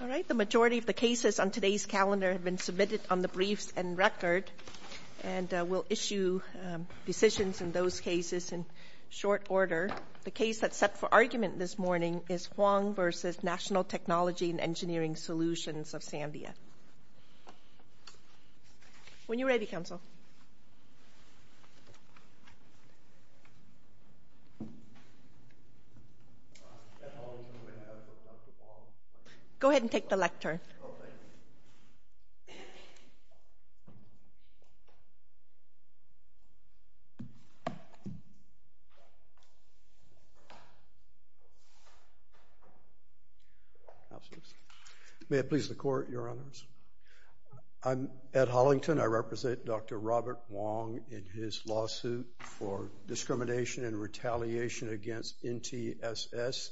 All right, the majority of the cases on today's calendar have been submitted on the briefs and record, and we'll issue decisions in those cases in short order. The case that's set for argument this morning is Hwang v. National Technology and Engineering Solutions of Sandia. When you're ready, counsel. Go ahead and take the lectern. May it please the Court, Your Honors. I'm Ed Hollington. I represent Dr. Robert Hwang in his lawsuit for discrimination and retaliation against NTESS.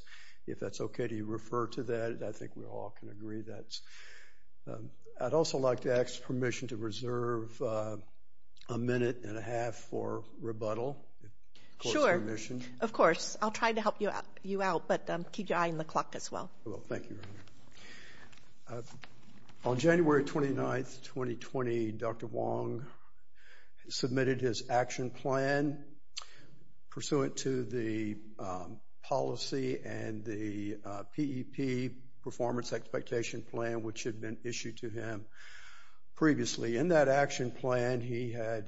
If that's okay, do you refer to that? I think we all can agree that's... I'd also like to ask permission to reserve a minute and a half for rebuttal, if that's okay. Sure. Of course. I'll try to help you out, but keep your eye on the clock as well. Thank you. On January 29th, 2020, Dr. Hwang submitted his action plan pursuant to the policy and the PEP, Performance Expectation Plan, which had been issued to him previously. In that action plan, he had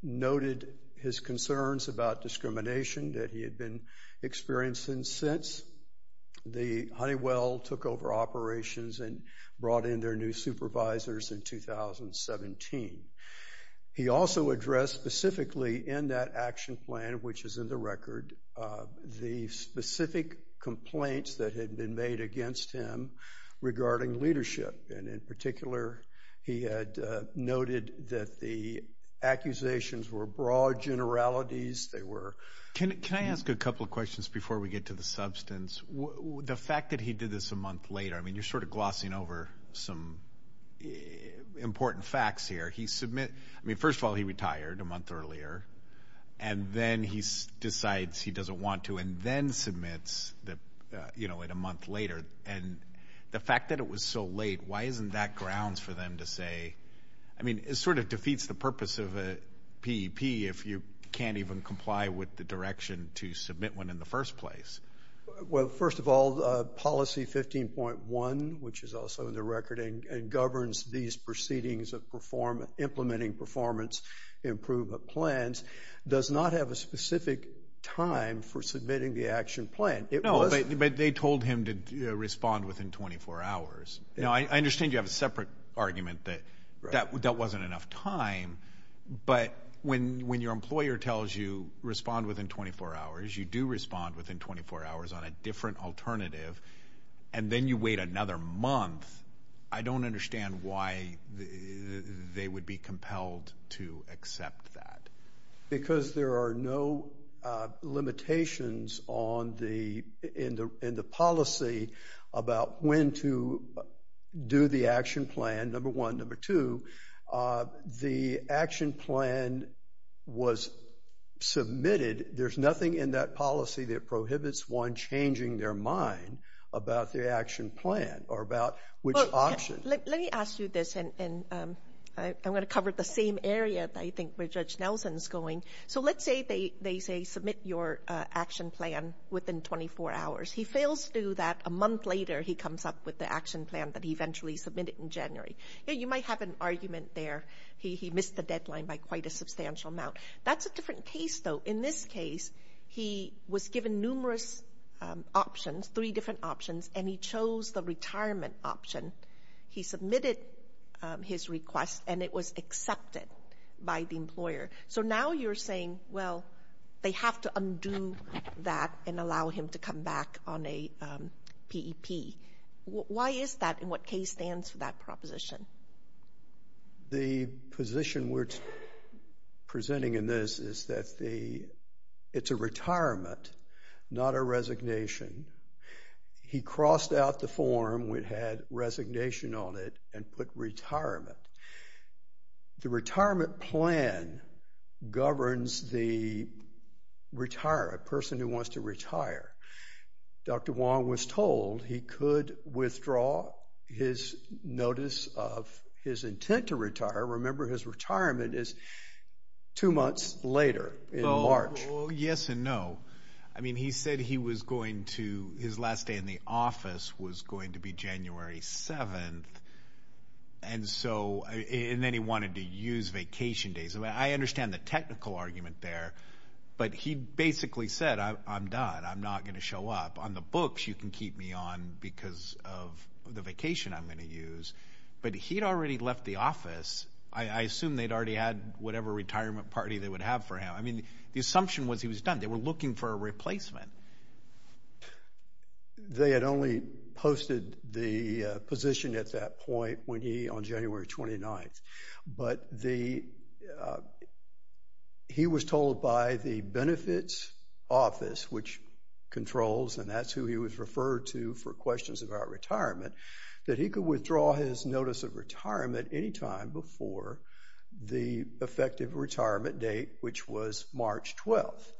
noted his concerns about discrimination that he had been experiencing since. The Honeywell took over operations and brought in their new supervisors in 2017. He also addressed specifically in that action plan, which is in the record, the specific complaints that had been made against him regarding leadership. In particular, he had noted that the accusations were broad generalities. They were... The fact that he did this a month later, I mean, you're sort of glossing over some important facts here. He submitted... I mean, first of all, he retired a month earlier, and then he decides he doesn't want to, and then submits it a month later. The fact that it was so late, why isn't that grounds for them to say... I mean, it sort of defeats the purpose of a PEP if you can't even comply with the direction to submit one in the first place. Well, first of all, policy 15.1, which is also in the record and governs these proceedings of implementing performance improvement plans, does not have a specific time for submitting the action plan. It was... No, but they told him to respond within 24 hours. Now, I understand you have a separate argument that that wasn't enough time, but when your do respond within 24 hours on a different alternative, and then you wait another month, I don't understand why they would be compelled to accept that. Because there are no limitations on the... In the policy about when to do the action plan, number one, number two, the action plan was submitted. There's nothing in that policy that prohibits one changing their mind about the action plan or about which option. Let me ask you this, and I'm going to cover the same area, I think, where Judge Nelson's going. So let's say they say, submit your action plan within 24 hours. He fails to do that a month later. He comes up with the action plan that he eventually submitted in January. You might have an argument there. He missed the deadline by quite a substantial amount. That's a different case, though. In this case, he was given numerous options, three different options, and he chose the retirement option. He submitted his request, and it was accepted by the employer. So now you're saying, well, they have to undo that and allow him to come back on a PEP. Why is that, and what case stands for that proposition? The position we're presenting in this is that it's a retirement, not a resignation. He crossed out the form that had resignation on it and put retirement. The retirement plan governs the person who wants to retire. Dr. Wong was told he could withdraw his notice of his intent to retire. Remember, his retirement is two months later, in March. Well, yes and no. I mean, he said he was going to, his last day in the office was going to be January 7th, and then he wanted to use vacation days. I understand the technical argument there, but he basically said, I'm done. I'm not going to show up. On the books, you can keep me on because of the vacation I'm going to use. But he'd already left the office. I assume they'd already had whatever retirement party they would have for him. I mean, the assumption was he was done. They were looking for a replacement. They had only posted the position at that point when he, on January 29th. But he was told by the benefits office, which controls, and that's who he was referred to for questions about retirement, that he could withdraw his notice of retirement any time before the effective retirement date, which was March 12th.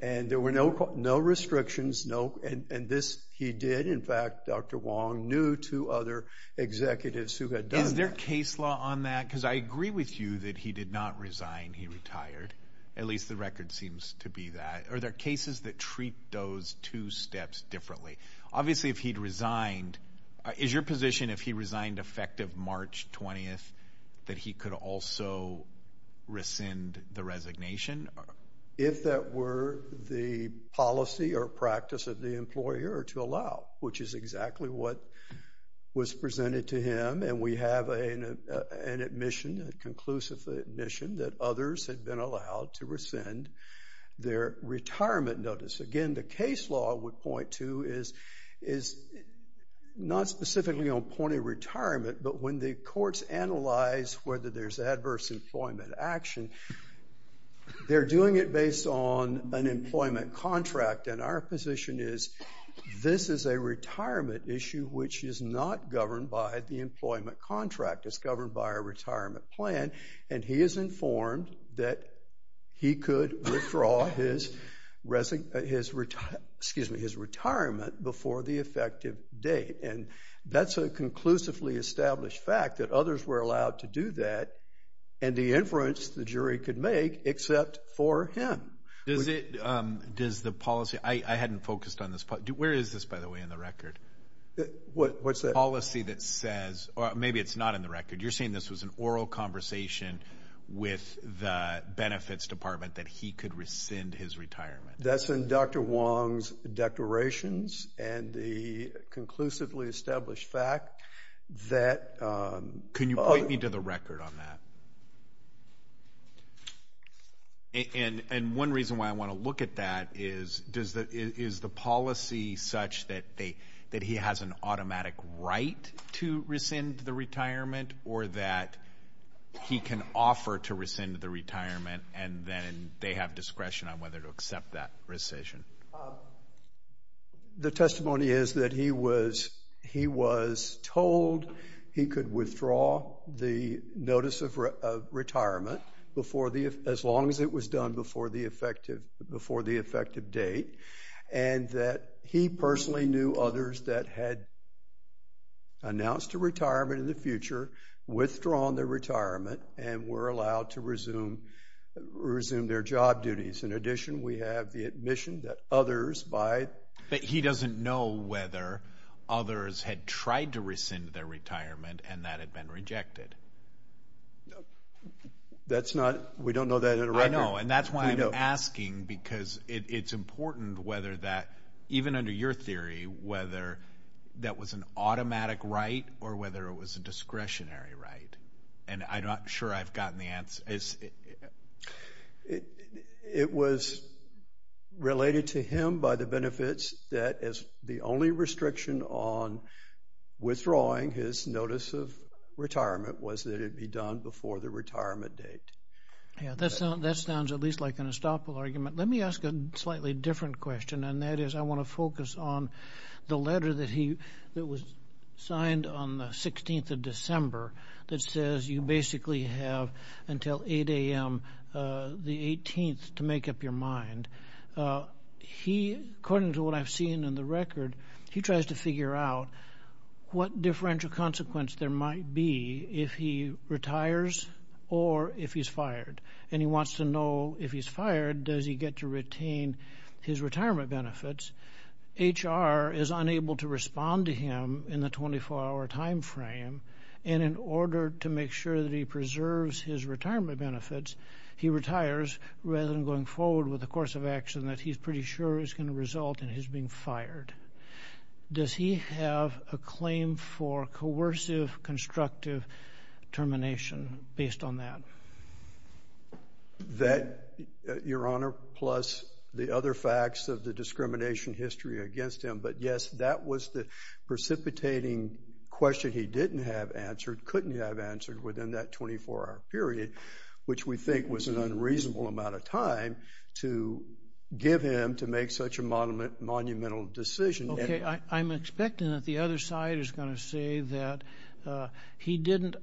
And there were no restrictions, and this he did. In fact, Dr. Wong knew two other executives who had done that. Is there a case law on that? Because I agree with you that he did not resign. He retired. At least the record seems to be that. Are there cases that treat those two steps differently? Obviously, if he'd resigned, is your position, if he resigned effective March 20th, that he could also rescind the resignation? If that were the policy or practice of the employer to allow, which is exactly what was presented to him, and we have an admission, a conclusive admission, that others had been allowed to rescind their retirement notice. Again, the case law would point to is not specifically on point of retirement, but when the courts analyze whether there's adverse employment action, they're doing it based on an employment contract. And our position is this is a retirement issue which is not governed by the employment contract. It's governed by a retirement plan. And he is informed that he could withdraw his retirement before the effective date. And that's a conclusively established fact, that others were allowed to do that, and the influence the jury could make except for him. Does the policy – I hadn't focused on this. Where is this, by the way, in the record? What's that? Policy that says – or maybe it's not in the record. You're saying this was an oral conversation with the benefits department that he could rescind his retirement. That's in Dr. Wong's declarations and the conclusively established fact that – Can you point me to the record on that? And one reason why I want to look at that is, is the policy such that he has an automatic right to rescind the retirement or that he can offer to rescind the retirement and then they have discretion on whether to accept that rescission? The testimony is that he was told he could withdraw the notice of retirement as long as it was done before the effective date, and that he personally knew others that had announced a retirement in the future, withdrawn their retirement, and were allowed to resume their job duties. In addition, we have the admission that others by – But he doesn't know whether others had tried to rescind their retirement and that had been rejected. That's not – we don't know that in the record. I know, and that's why I'm asking because it's important whether that – even under your theory, whether that was an automatic right or whether it was a discretionary right. And I'm not sure I've gotten the answer. It was related to him by the benefits that as the only restriction on withdrawing his notice of retirement was that it be done before the retirement date. Yeah, that sounds at least like an estoppel argument. Let me ask a slightly different question, and that is I want to focus on the letter that was signed on the 16th of December that says you basically have until 8 a.m. the 18th to make up your mind. According to what I've seen in the record, he tries to figure out what differential consequence there might be if he retires or if he's fired. And he wants to know if he's fired, does he get to retain his retirement benefits? HR is unable to respond to him in the 24-hour time frame, and in order to make sure that he preserves his retirement benefits, he retires rather than going forward with a course of action that he's pretty sure is going to result in his being fired. Does he have a claim for coercive, constructive termination based on that? That, Your Honor, plus the other facts of the discrimination history against him. But, yes, that was the precipitating question he didn't have answered, couldn't have answered within that 24-hour period, which we think was an unreasonable amount of time to give him to make such a monumental decision. Okay, I'm expecting that the other side is going to say that he didn't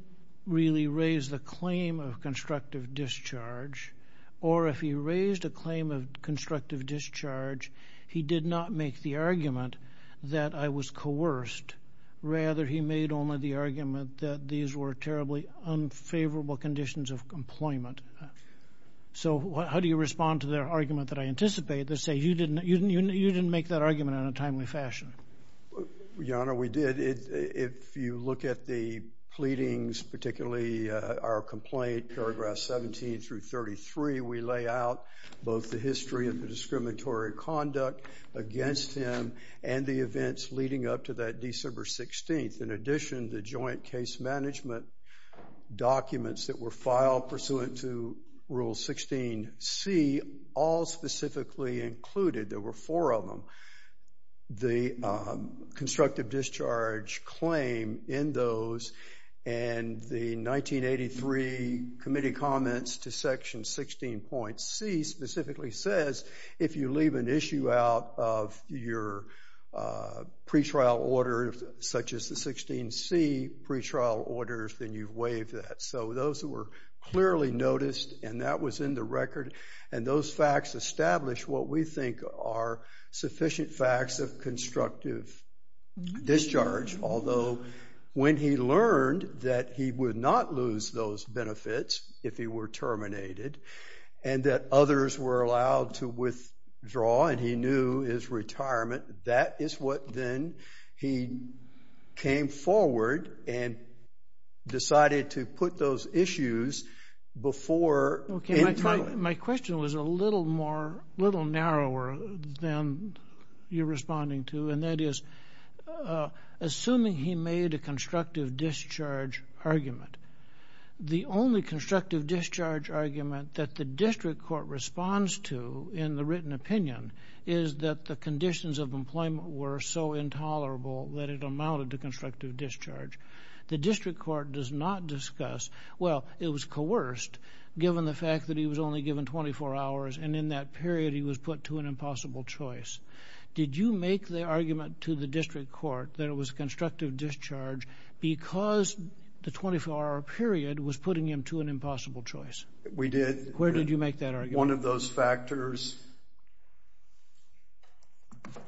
really raise the claim of constructive discharge, or if he raised a claim of constructive discharge, he did not make the argument that I was coerced. Rather, he made only the argument that these were terribly unfavorable conditions of employment. So how do you respond to their argument that I anticipate, that say you didn't make that argument in a timely fashion? Your Honor, we did. If you look at the pleadings, particularly our complaint, paragraphs 17 through 33, we lay out both the history of the discriminatory conduct against him and the events leading up to that December 16th. In addition, the joint case management documents that were filed pursuant to Rule 16C all specifically included, there were four of them, the constructive discharge claim in those, and the 1983 committee comments to Section 16.C specifically says if you leave an issue out of your pretrial order, such as the 16.C pretrial orders, then you've waived that. So those were clearly noticed, and that was in the record, and those facts established what we think are sufficient facts of constructive discharge, although when he learned that he would not lose those benefits if he were terminated and that others were allowed to withdraw and he knew his retirement, that is what then he came forward and decided to put those issues before. My question was a little narrower than you're responding to, and that is assuming he made a constructive discharge argument, the only constructive discharge argument that the district court responds to in the written opinion is that the conditions of employment were so intolerable that it amounted to constructive discharge. The district court does not discuss, well, it was coerced, given the fact that he was only given 24 hours, and in that period he was put to an impossible choice. Did you make the argument to the district court that it was constructive discharge because the 24-hour period was putting him to an impossible choice? We did. Where did you make that argument? One of those factors. Questions?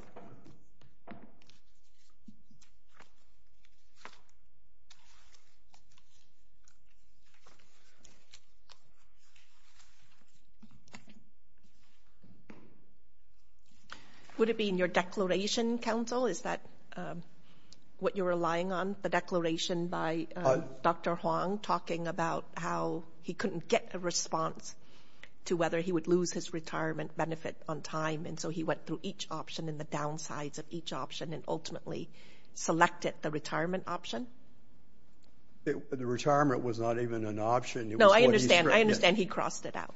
Would it be in your declaration, counsel? Is that what you're relying on, the declaration by Dr. Huang talking about how he couldn't get a response to whether he would lose his retirement benefit on time, and so he went through each option and the downsides of each option and ultimately selected the retirement option? The retirement was not even an option. No, I understand. I understand he crossed it out.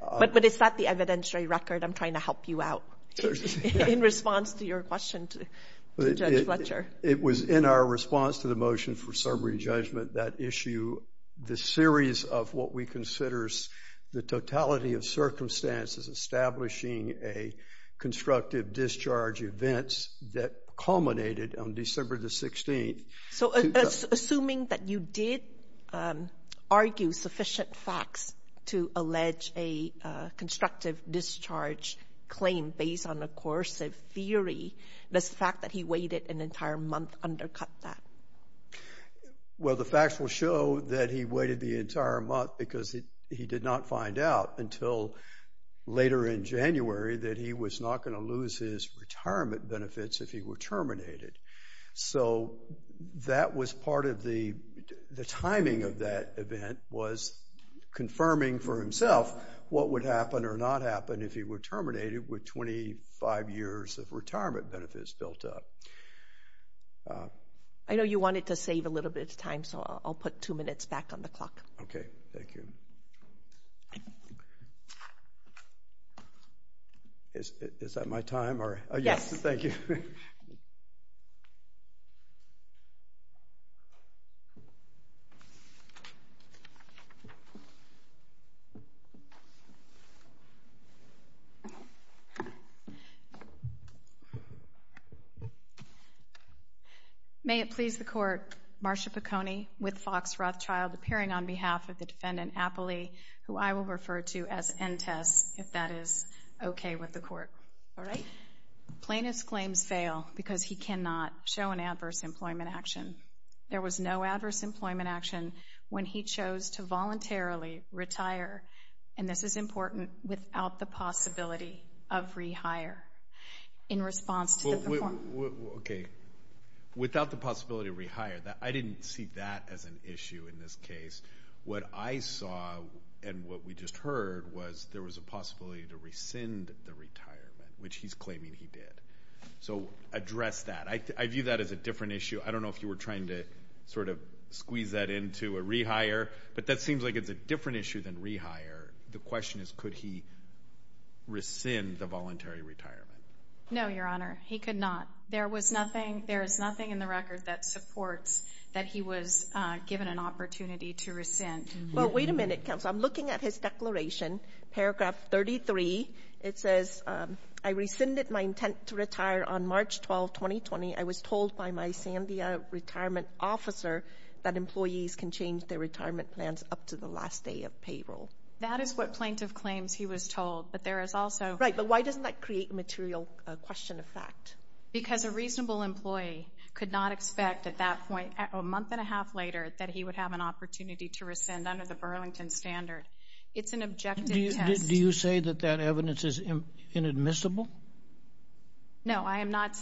But it's not the evidentiary record. I'm trying to help you out in response to your question to Judge Fletcher. It was in our response to the motion for summary judgment that issue the series of what we consider the totality of circumstances establishing a constructive discharge event that culminated on December the 16th. So assuming that you did argue sufficient facts to allege a constructive discharge claim based on a coercive theory, does the fact that he waited an entire month undercut that? Well, the facts will show that he waited the entire month because he did not find out until later in January that he was not going to lose his retirement benefits if he were terminated. So that was part of the timing of that event was confirming for himself what would happen or not happen if he were terminated with 25 years of retirement benefits built up. I know you wanted to save a little bit of time, so I'll put two minutes back on the clock. Okay, thank you. Is that my time? Yes. Thank you. May it please the Court, Marsha Piconi with Fox Rothschild appearing on behalf of the Defendant Appley, who I will refer to as Entess if that is okay with the Court. All right. Plaintiff's claims fail because he cannot show an adverse employment action. There was no adverse employment action when he chose to voluntarily retire, and this is important, without the possibility of rehire. In response to the performance. Okay, without the possibility of rehire. I didn't see that as an issue in this case. What I saw and what we just heard was there was a possibility to rescind the retirement, which he's claiming he did. So address that. I view that as a different issue. I don't know if you were trying to sort of squeeze that into a rehire, but that seems like it's a different issue than rehire. The question is, could he rescind the voluntary retirement? No, Your Honor. He could not. There is nothing in the record that supports that he was given an opportunity to rescind. Well, wait a minute, counsel. I'm looking at his declaration, paragraph 33. It says, I rescinded my intent to retire on March 12, 2020. I was told by my Sandia retirement officer that employees can change their retirement plans up to the last day of payroll. That is what plaintiff claims he was told, but there is also. Right, but why doesn't that create a material question of fact? Because a reasonable employee could not expect at that point, a month and a half later, that he would have an opportunity to rescind under the Burlington Standard. It's an objective test. Do you say that that evidence is inadmissible? No, I am not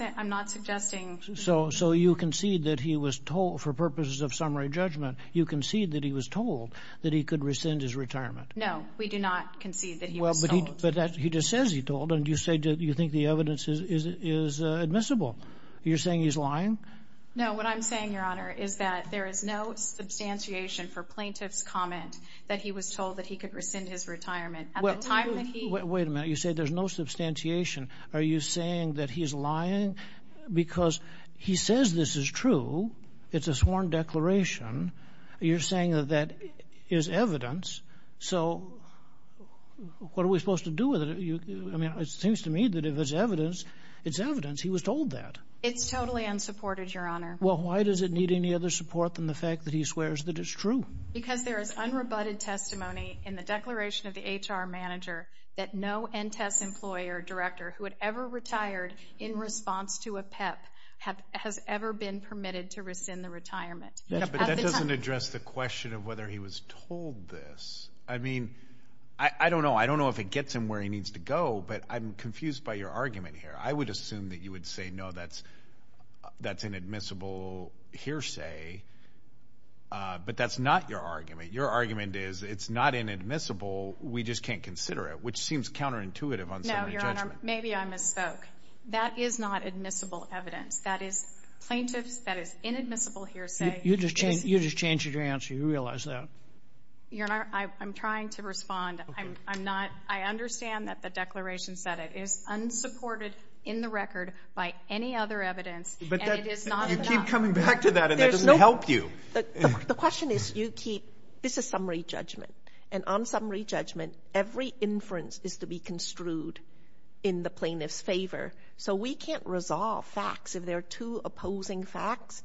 suggesting. So you concede that he was told, for purposes of summary judgment, you concede that he was told that he could rescind his retirement. No, we do not concede that he was told. But he just says he told, and you think the evidence is admissible. You're saying he's lying? No, what I'm saying, Your Honor, is that there is no substantiation for plaintiff's comment that he was told that he could rescind his retirement. Wait a minute. You say there's no substantiation. Are you saying that he's lying? Because he says this is true. It's a sworn declaration. You're saying that that is evidence. So what are we supposed to do with it? I mean, it seems to me that if it's evidence, it's evidence he was told that. It's totally unsupported, Your Honor. Well, why does it need any other support than the fact that he swears that it's true? Because there is unrebutted testimony in the declaration of the HR manager that no NTES employer director who had ever retired in response to a PEP has ever been permitted to rescind the retirement. But that doesn't address the question of whether he was told this. I mean, I don't know. I don't know if it gets him where he needs to go, but I'm confused by your argument here. I would assume that you would say, no, that's an admissible hearsay. But that's not your argument. Your argument is it's not inadmissible, we just can't consider it, which seems counterintuitive on some of the judgment. No, Your Honor. Maybe I misspoke. That is not admissible evidence. That is plaintiffs, that is inadmissible hearsay. You just changed your answer. You realize that? Your Honor, I'm trying to respond. I'm not. I understand that the declaration said it is unsupported in the record by any other evidence, and it is not enough. You keep coming back to that, and that doesn't help you. The question is you keep this is summary judgment, and on summary judgment, every inference is to be construed in the plaintiff's favor. So we can't resolve facts. If there are two opposing facts,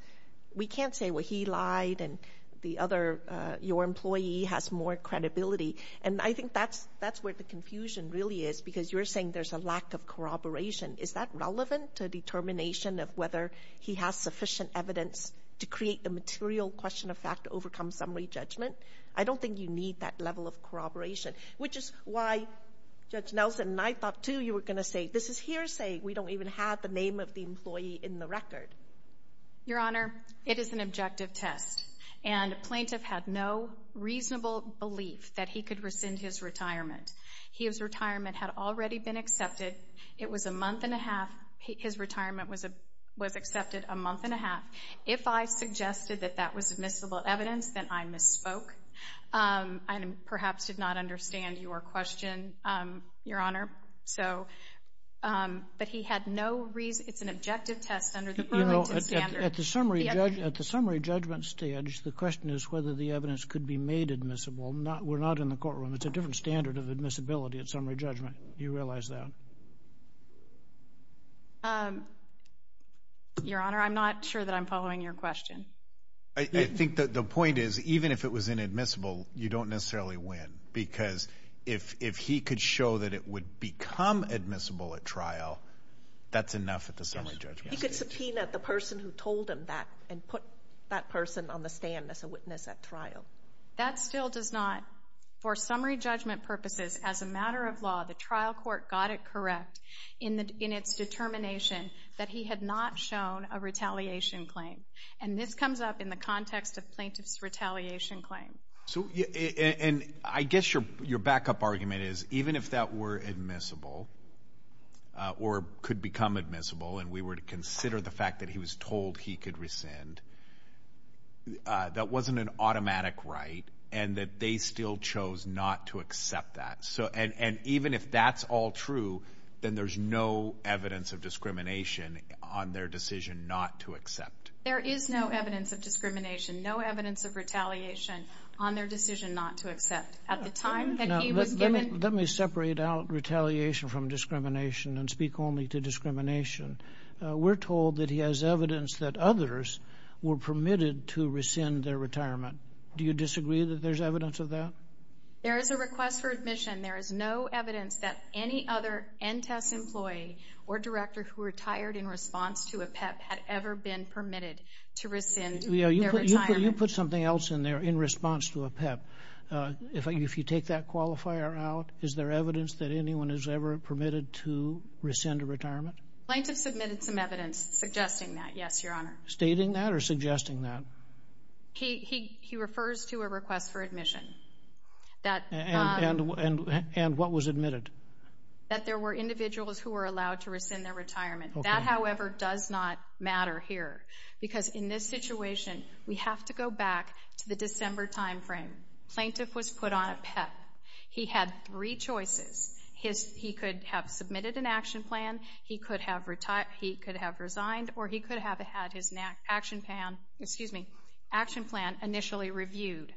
we can't say, well, he lied and the other, your employee has more credibility. And I think that's where the confusion really is because you're saying there's a lack of corroboration. Is that relevant to determination of whether he has sufficient evidence to create the material question of fact to overcome summary judgment? I don't think you need that level of corroboration, which is why Judge Nelson and I thought, too, you were going to say this is hearsay. We don't even have the name of the employee in the record. Your Honor, it is an objective test, and a plaintiff had no reasonable belief that he could rescind his retirement. His retirement had already been accepted. It was a month and a half. His retirement was accepted a month and a half. If I suggested that that was admissible evidence, then I misspoke. I perhaps did not understand your question, Your Honor. But he had no reason. It's an objective test under the Burlington standard. At the summary judgment stage, the question is whether the evidence could be made admissible. We're not in the courtroom. It's a different standard of admissibility at summary judgment. Do you realize that? Your Honor, I'm not sure that I'm following your question. I think that the point is, even if it was inadmissible, you don't necessarily win, because if he could show that it would become admissible at trial, that's enough at the summary judgment stage. He could subpoena the person who told him that and put that person on the stand as a witness at trial. That still does not, for summary judgment purposes, as a matter of law, the trial court got it correct in its determination that he had not shown a retaliation claim. And this comes up in the context of plaintiff's retaliation claim. And I guess your backup argument is, even if that were admissible or could become admissible and we were to consider the fact that he was told he could rescind, that wasn't an automatic right and that they still chose not to accept that. And even if that's all true, then there's no evidence of discrimination on their decision not to accept. There is no evidence of discrimination, no evidence of retaliation on their decision not to accept. At the time that he was given... Let me separate out retaliation from discrimination and speak only to discrimination. We're told that he has evidence that others were permitted to rescind their retirement. Do you disagree that there's evidence of that? There is a request for admission. There is no evidence that any other NTES employee or director who retired in response to a PEP had ever been permitted to rescind their retirement. You put something else in there in response to a PEP. If you take that qualifier out, is there evidence that anyone is ever permitted to rescind a retirement? Plaintiff submitted some evidence suggesting that, yes, Your Honor. Stating that or suggesting that? He refers to a request for admission. And what was admitted? That there were individuals who were allowed to rescind their retirement. That, however, does not matter here because in this situation, we have to go back to the December time frame. Plaintiff was put on a PEP. He had three choices. He could have submitted an action plan, he could have resigned, or he could have had his action plan initially reviewed.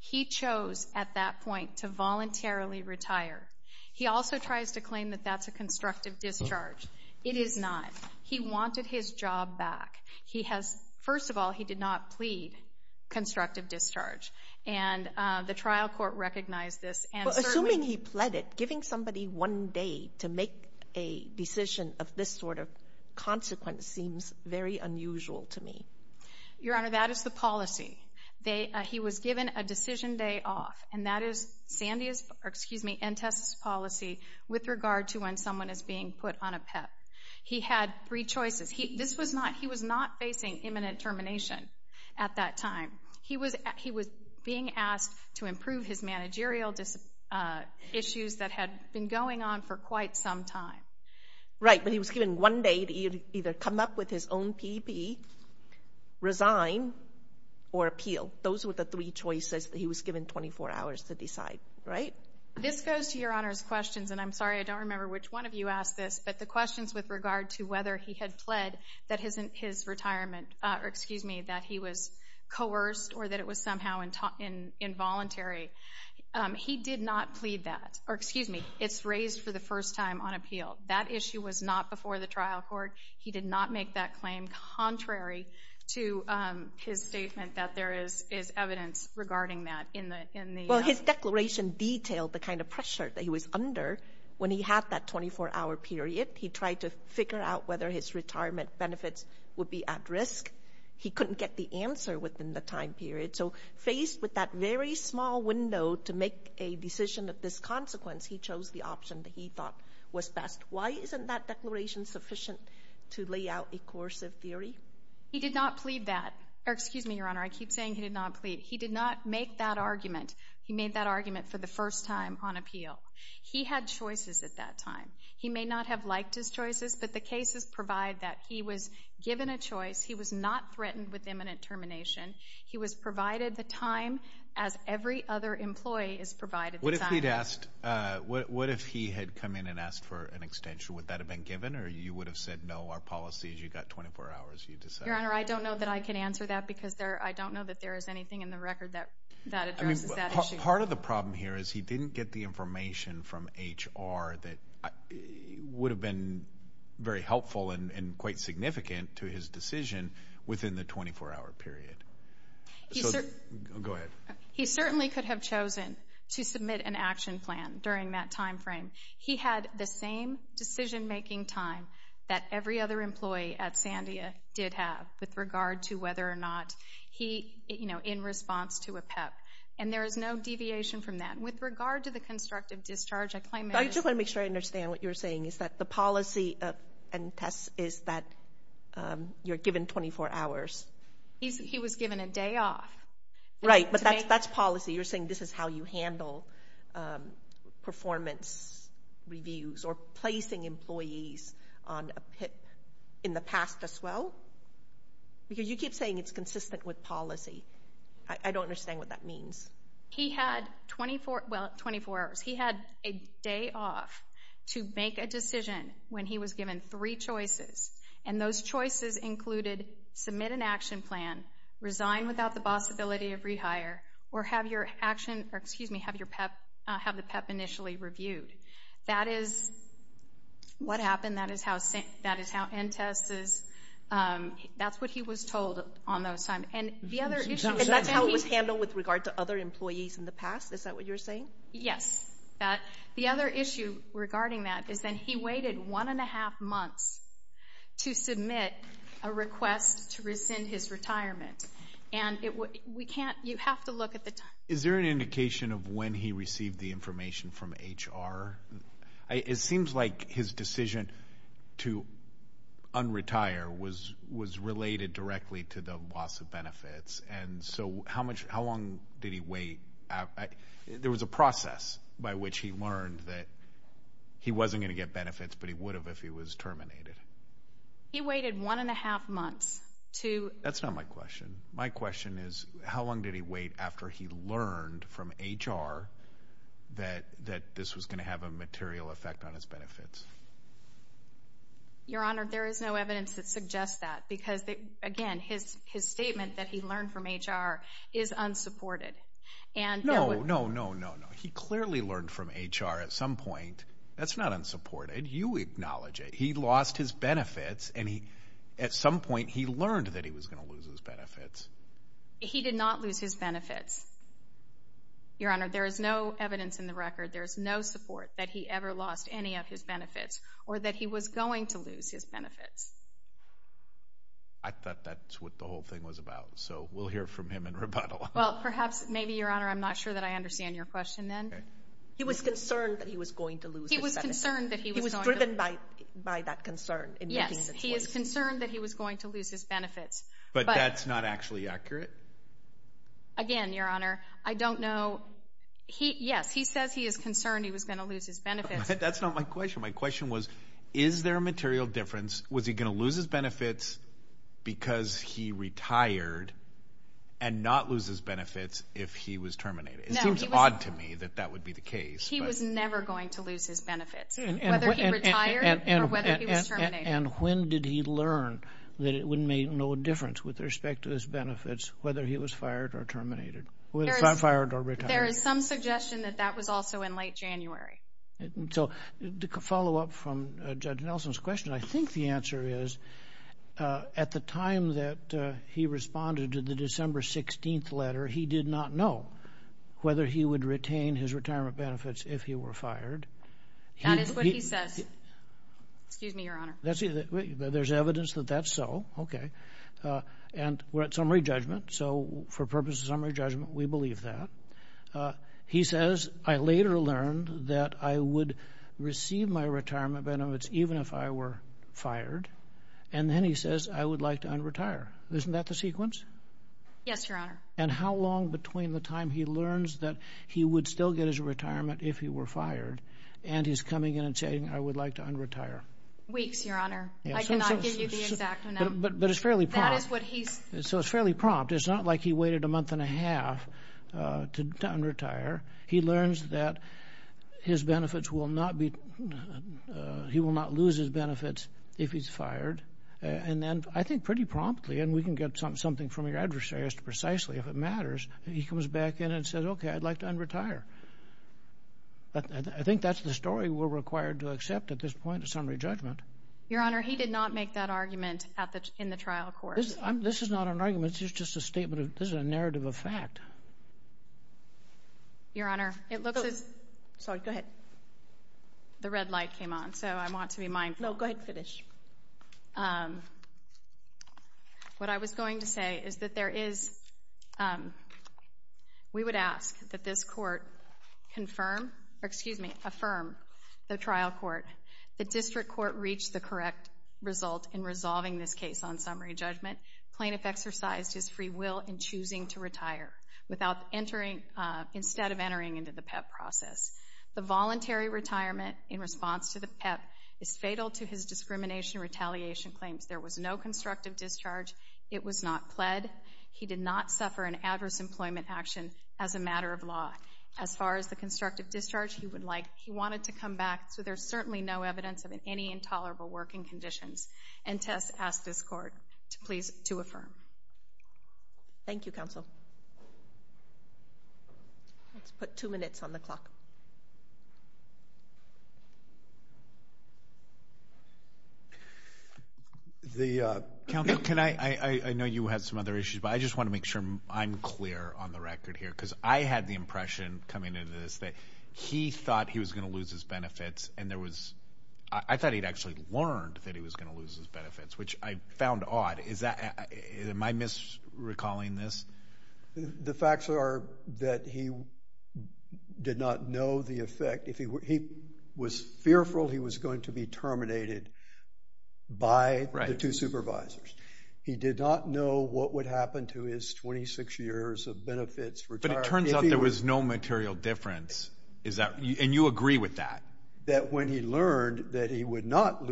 He chose at that point to voluntarily retire. He also tries to claim that that's a constructive discharge. It is not. He wanted his job back. First of all, he did not plead constructive discharge. And the trial court recognized this. Assuming he pleaded, giving somebody one day to make a decision of this sort of consequence seems very unusual to me. Your Honor, that is the policy. He was given a decision day off, and that is NTSA's policy with regard to when someone is being put on a PEP. He had three choices. He was not facing imminent termination at that time. He was being asked to improve his managerial issues that had been going on for quite some time. Right, but he was given one day to either come up with his own PEP, resign, or appeal. Those were the three choices that he was given 24 hours to decide, right? This goes to Your Honor's questions, and I'm sorry I don't remember which one of you asked this, but the questions with regard to whether he had pled that his retirement, or excuse me, that he was coerced or that it was somehow involuntary, he did not plead that. Or excuse me, it's raised for the first time on appeal. That issue was not before the trial court. He did not make that claim contrary to his statement that there is evidence regarding that. Well, his declaration detailed the kind of pressure that he was under when he had that 24-hour period. He tried to figure out whether his retirement benefits would be at risk. He couldn't get the answer within the time period. So faced with that very small window to make a decision of this consequence, he chose the option that he thought was best. Why isn't that declaration sufficient to lay out a coercive theory? He did not plead that. Or excuse me, Your Honor, I keep saying he did not plead. He did not make that argument. He made that argument for the first time on appeal. He had choices at that time. He may not have liked his choices, but the cases provide that. He was given a choice. He was not threatened with imminent termination. He was provided the time as every other employee is provided the time. What if he had come in and asked for an extension? Would that have been given or you would have said, no, our policy is you've got 24 hours, you decide. Your Honor, I don't know that I can answer that because I don't know that there is anything in the record that addresses that issue. Part of the problem here is he didn't get the information from HR that would have been very helpful and quite significant to his decision within the 24-hour period. Go ahead. He certainly could have chosen to submit an action plan during that time frame. He had the same decision-making time that every other employee at Sandia did have with regard to whether or not he, you know, in response to a PEP. And there is no deviation from that. With regard to the constructive discharge, I claim it is- I just want to make sure I understand what you're saying is that the policy and test is that you're given 24 hours. He was given a day off. Right, but that's policy. You're saying this is how you handle performance reviews or placing employees on a PIP in the past as well? Because you keep saying it's consistent with policy. I don't understand what that means. He had 24 hours. He had a day off to make a decision when he was given three choices, and those choices included submit an action plan, resign without the possibility of rehire, or have the PEP initially reviewed. That is what happened. That is how end tests is. That's what he was told on those times. And that's how it was handled with regard to other employees in the past? Is that what you're saying? Yes. The other issue regarding that is that he waited one and a half months to submit a request to rescind his retirement. And you have to look at the time. Is there an indication of when he received the information from HR? It seems like his decision to un-retire was related directly to the loss of benefits. And so how long did he wait? There was a process by which he learned that he wasn't going to get benefits, but he would have if he was terminated. He waited one and a half months. That's not my question. My question is how long did he wait after he learned from HR that this was going to have a material effect on his benefits? Your Honor, there is no evidence that suggests that. Because, again, his statement that he learned from HR is unsupported. No, no, no, no. He clearly learned from HR at some point. That's not unsupported. You acknowledge it. He lost his benefits, and at some point he learned that he was going to lose his benefits. He did not lose his benefits. Your Honor, there is no evidence in the record, there is no support that he ever lost any of his benefits or that he was going to lose his benefits. I thought that's what the whole thing was about. So we'll hear from him in rebuttal. Well, perhaps, maybe, Your Honor, I'm not sure that I understand your question then. He was concerned that he was going to lose his benefits. He was concerned that he was going to lose his benefits. He was driven by that concern. Yes, he is concerned that he was going to lose his benefits. But that's not actually accurate? Again, Your Honor, I don't know. Yes, he says he is concerned he was going to lose his benefits. That's not my question. My question was, is there a material difference? Was he going to lose his benefits because he retired and not lose his benefits if he was terminated? It seems odd to me that that would be the case. He was never going to lose his benefits, whether he retired or whether he was terminated. And when did he learn that it would make no difference with respect to his benefits whether he was fired or terminated, whether he was fired or retired? There is some suggestion that that was also in late January. So to follow up from Judge Nelson's question, I think the answer is at the time that he responded to the December 16th letter, he did not know whether he would retain his retirement benefits if he were fired. That is what he says. Excuse me, Your Honor. There's evidence that that's so. Okay. And we're at summary judgment, so for purposes of summary judgment, we believe that. He says, I later learned that I would receive my retirement benefits even if I were fired. And then he says, I would like to un-retire. Isn't that the sequence? Yes, Your Honor. And how long between the time he learns that he would still get his retirement if he were fired and he's coming in and saying, I would like to un-retire? Weeks, Your Honor. I cannot give you the exact amount. But it's fairly prompt. That is what he's. So it's fairly prompt. It's not like he waited a month and a half to un-retire. He learns that his benefits will not be, he will not lose his benefits if he's fired. And then I think pretty promptly, and we can get something from your adversary as to precisely if it matters, he comes back in and says, okay, I'd like to un-retire. I think that's the story we're required to accept at this point in summary judgment. Your Honor, he did not make that argument in the trial court. This is not an argument. This is just a statement of, this is a narrative of fact. Your Honor, it looks as... Sorry, go ahead. The red light came on, so I want to be mindful. No, go ahead and finish. What I was going to say is that there is... We would ask that this court confirm... Excuse me, affirm the trial court. The district court reached the correct result in resolving this case on summary judgment. Plaintiff exercised his free will in choosing to retire instead of entering into the PEP process. The voluntary retirement in response to the PEP is fatal to his discrimination retaliation claims. There was no constructive discharge. It was not pled. He did not suffer an adverse employment action as a matter of law. As far as the constructive discharge, he would like... He wanted to come back, so there's certainly no evidence of any intolerable working conditions. And to ask this court to please to affirm. Thank you, counsel. Let's put two minutes on the clock. The... Counsel, can I... I know you had some other issues, but I just want to make sure I'm clear on the record here, because I had the impression coming into this that he thought he was going to lose his benefits, and there was... I thought he'd actually learned that he was going to lose his benefits, which I found odd. Am I misrecalling this? The facts are that he did not know the effect. He was fearful he was going to be terminated by the two supervisors. He did not know what would happen to his 26 years of benefits. But it turns out there was no material difference, and you agree with that? That when he learned that he would not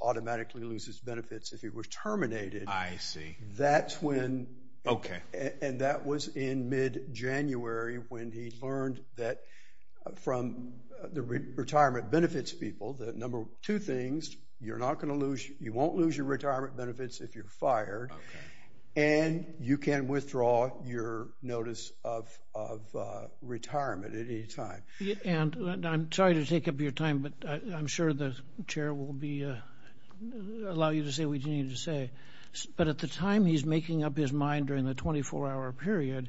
automatically lose his benefits if he was terminated... I see. That's when... Okay. And that was in mid-January when he learned that from the retirement benefits people, the number two things, you're not going to lose... You won't lose your retirement benefits if you're fired. Okay. And you can withdraw your notice of retirement at any time. And I'm sorry to take up your time, but I'm sure the chair will allow you to say what you need to say. But at the time he's making up his mind during the 24-hour period,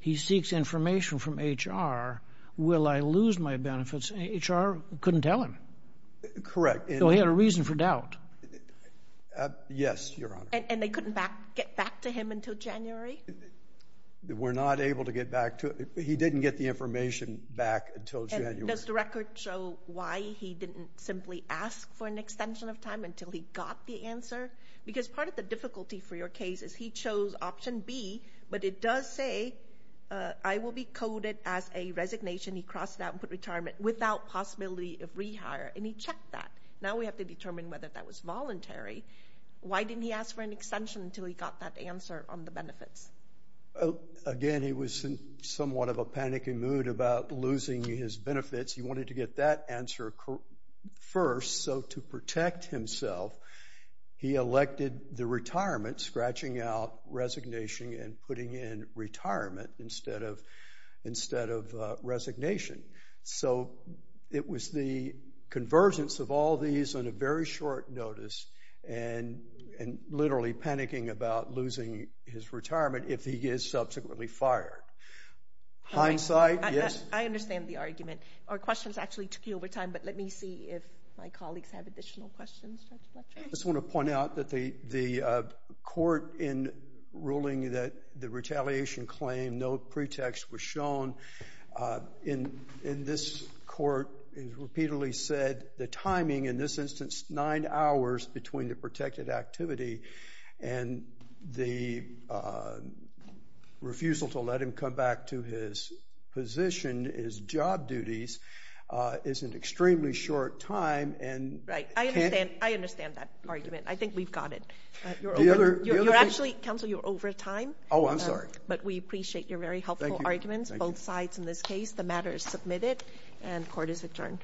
he seeks information from HR. Will I lose my benefits? HR couldn't tell him. Correct. So he had a reason for doubt. Yes, Your Honor. And they couldn't get back to him until January? We're not able to get back to him. He didn't get the information back until January. And does the record show why he didn't simply ask for an extension of time until he got the answer? Because part of the difficulty for your case is he chose option B, but it does say, I will be coded as a resignation. He crossed it out and put retirement without possibility of rehire, and he checked that. Now we have to determine whether that was voluntary. Why didn't he ask for an extension until he got that answer on the benefits? Again, he was in somewhat of a panicking mood about losing his benefits. He wanted to get that answer first. So to protect himself, he elected the retirement, scratching out resignation and putting in retirement instead of resignation. So it was the convergence of all these on a very short notice and literally panicking about losing his retirement if he is subsequently fired. Hindsight, yes? I understand the argument. Our questions actually took you over time, but let me see if my colleagues have additional questions. I just want to point out that the court in ruling that the retaliation claim, no pretext was shown, in this court it repeatedly said the timing, in this instance, nine hours between the protected activity and the refusal to let him come back to his position, his job duties, is an extremely short time. Right, I understand that argument. I think we've got it. You're actually, counsel, you're over time. Oh, I'm sorry. But we appreciate your very helpful arguments, both sides in this case. The matter is submitted and court is adjourned.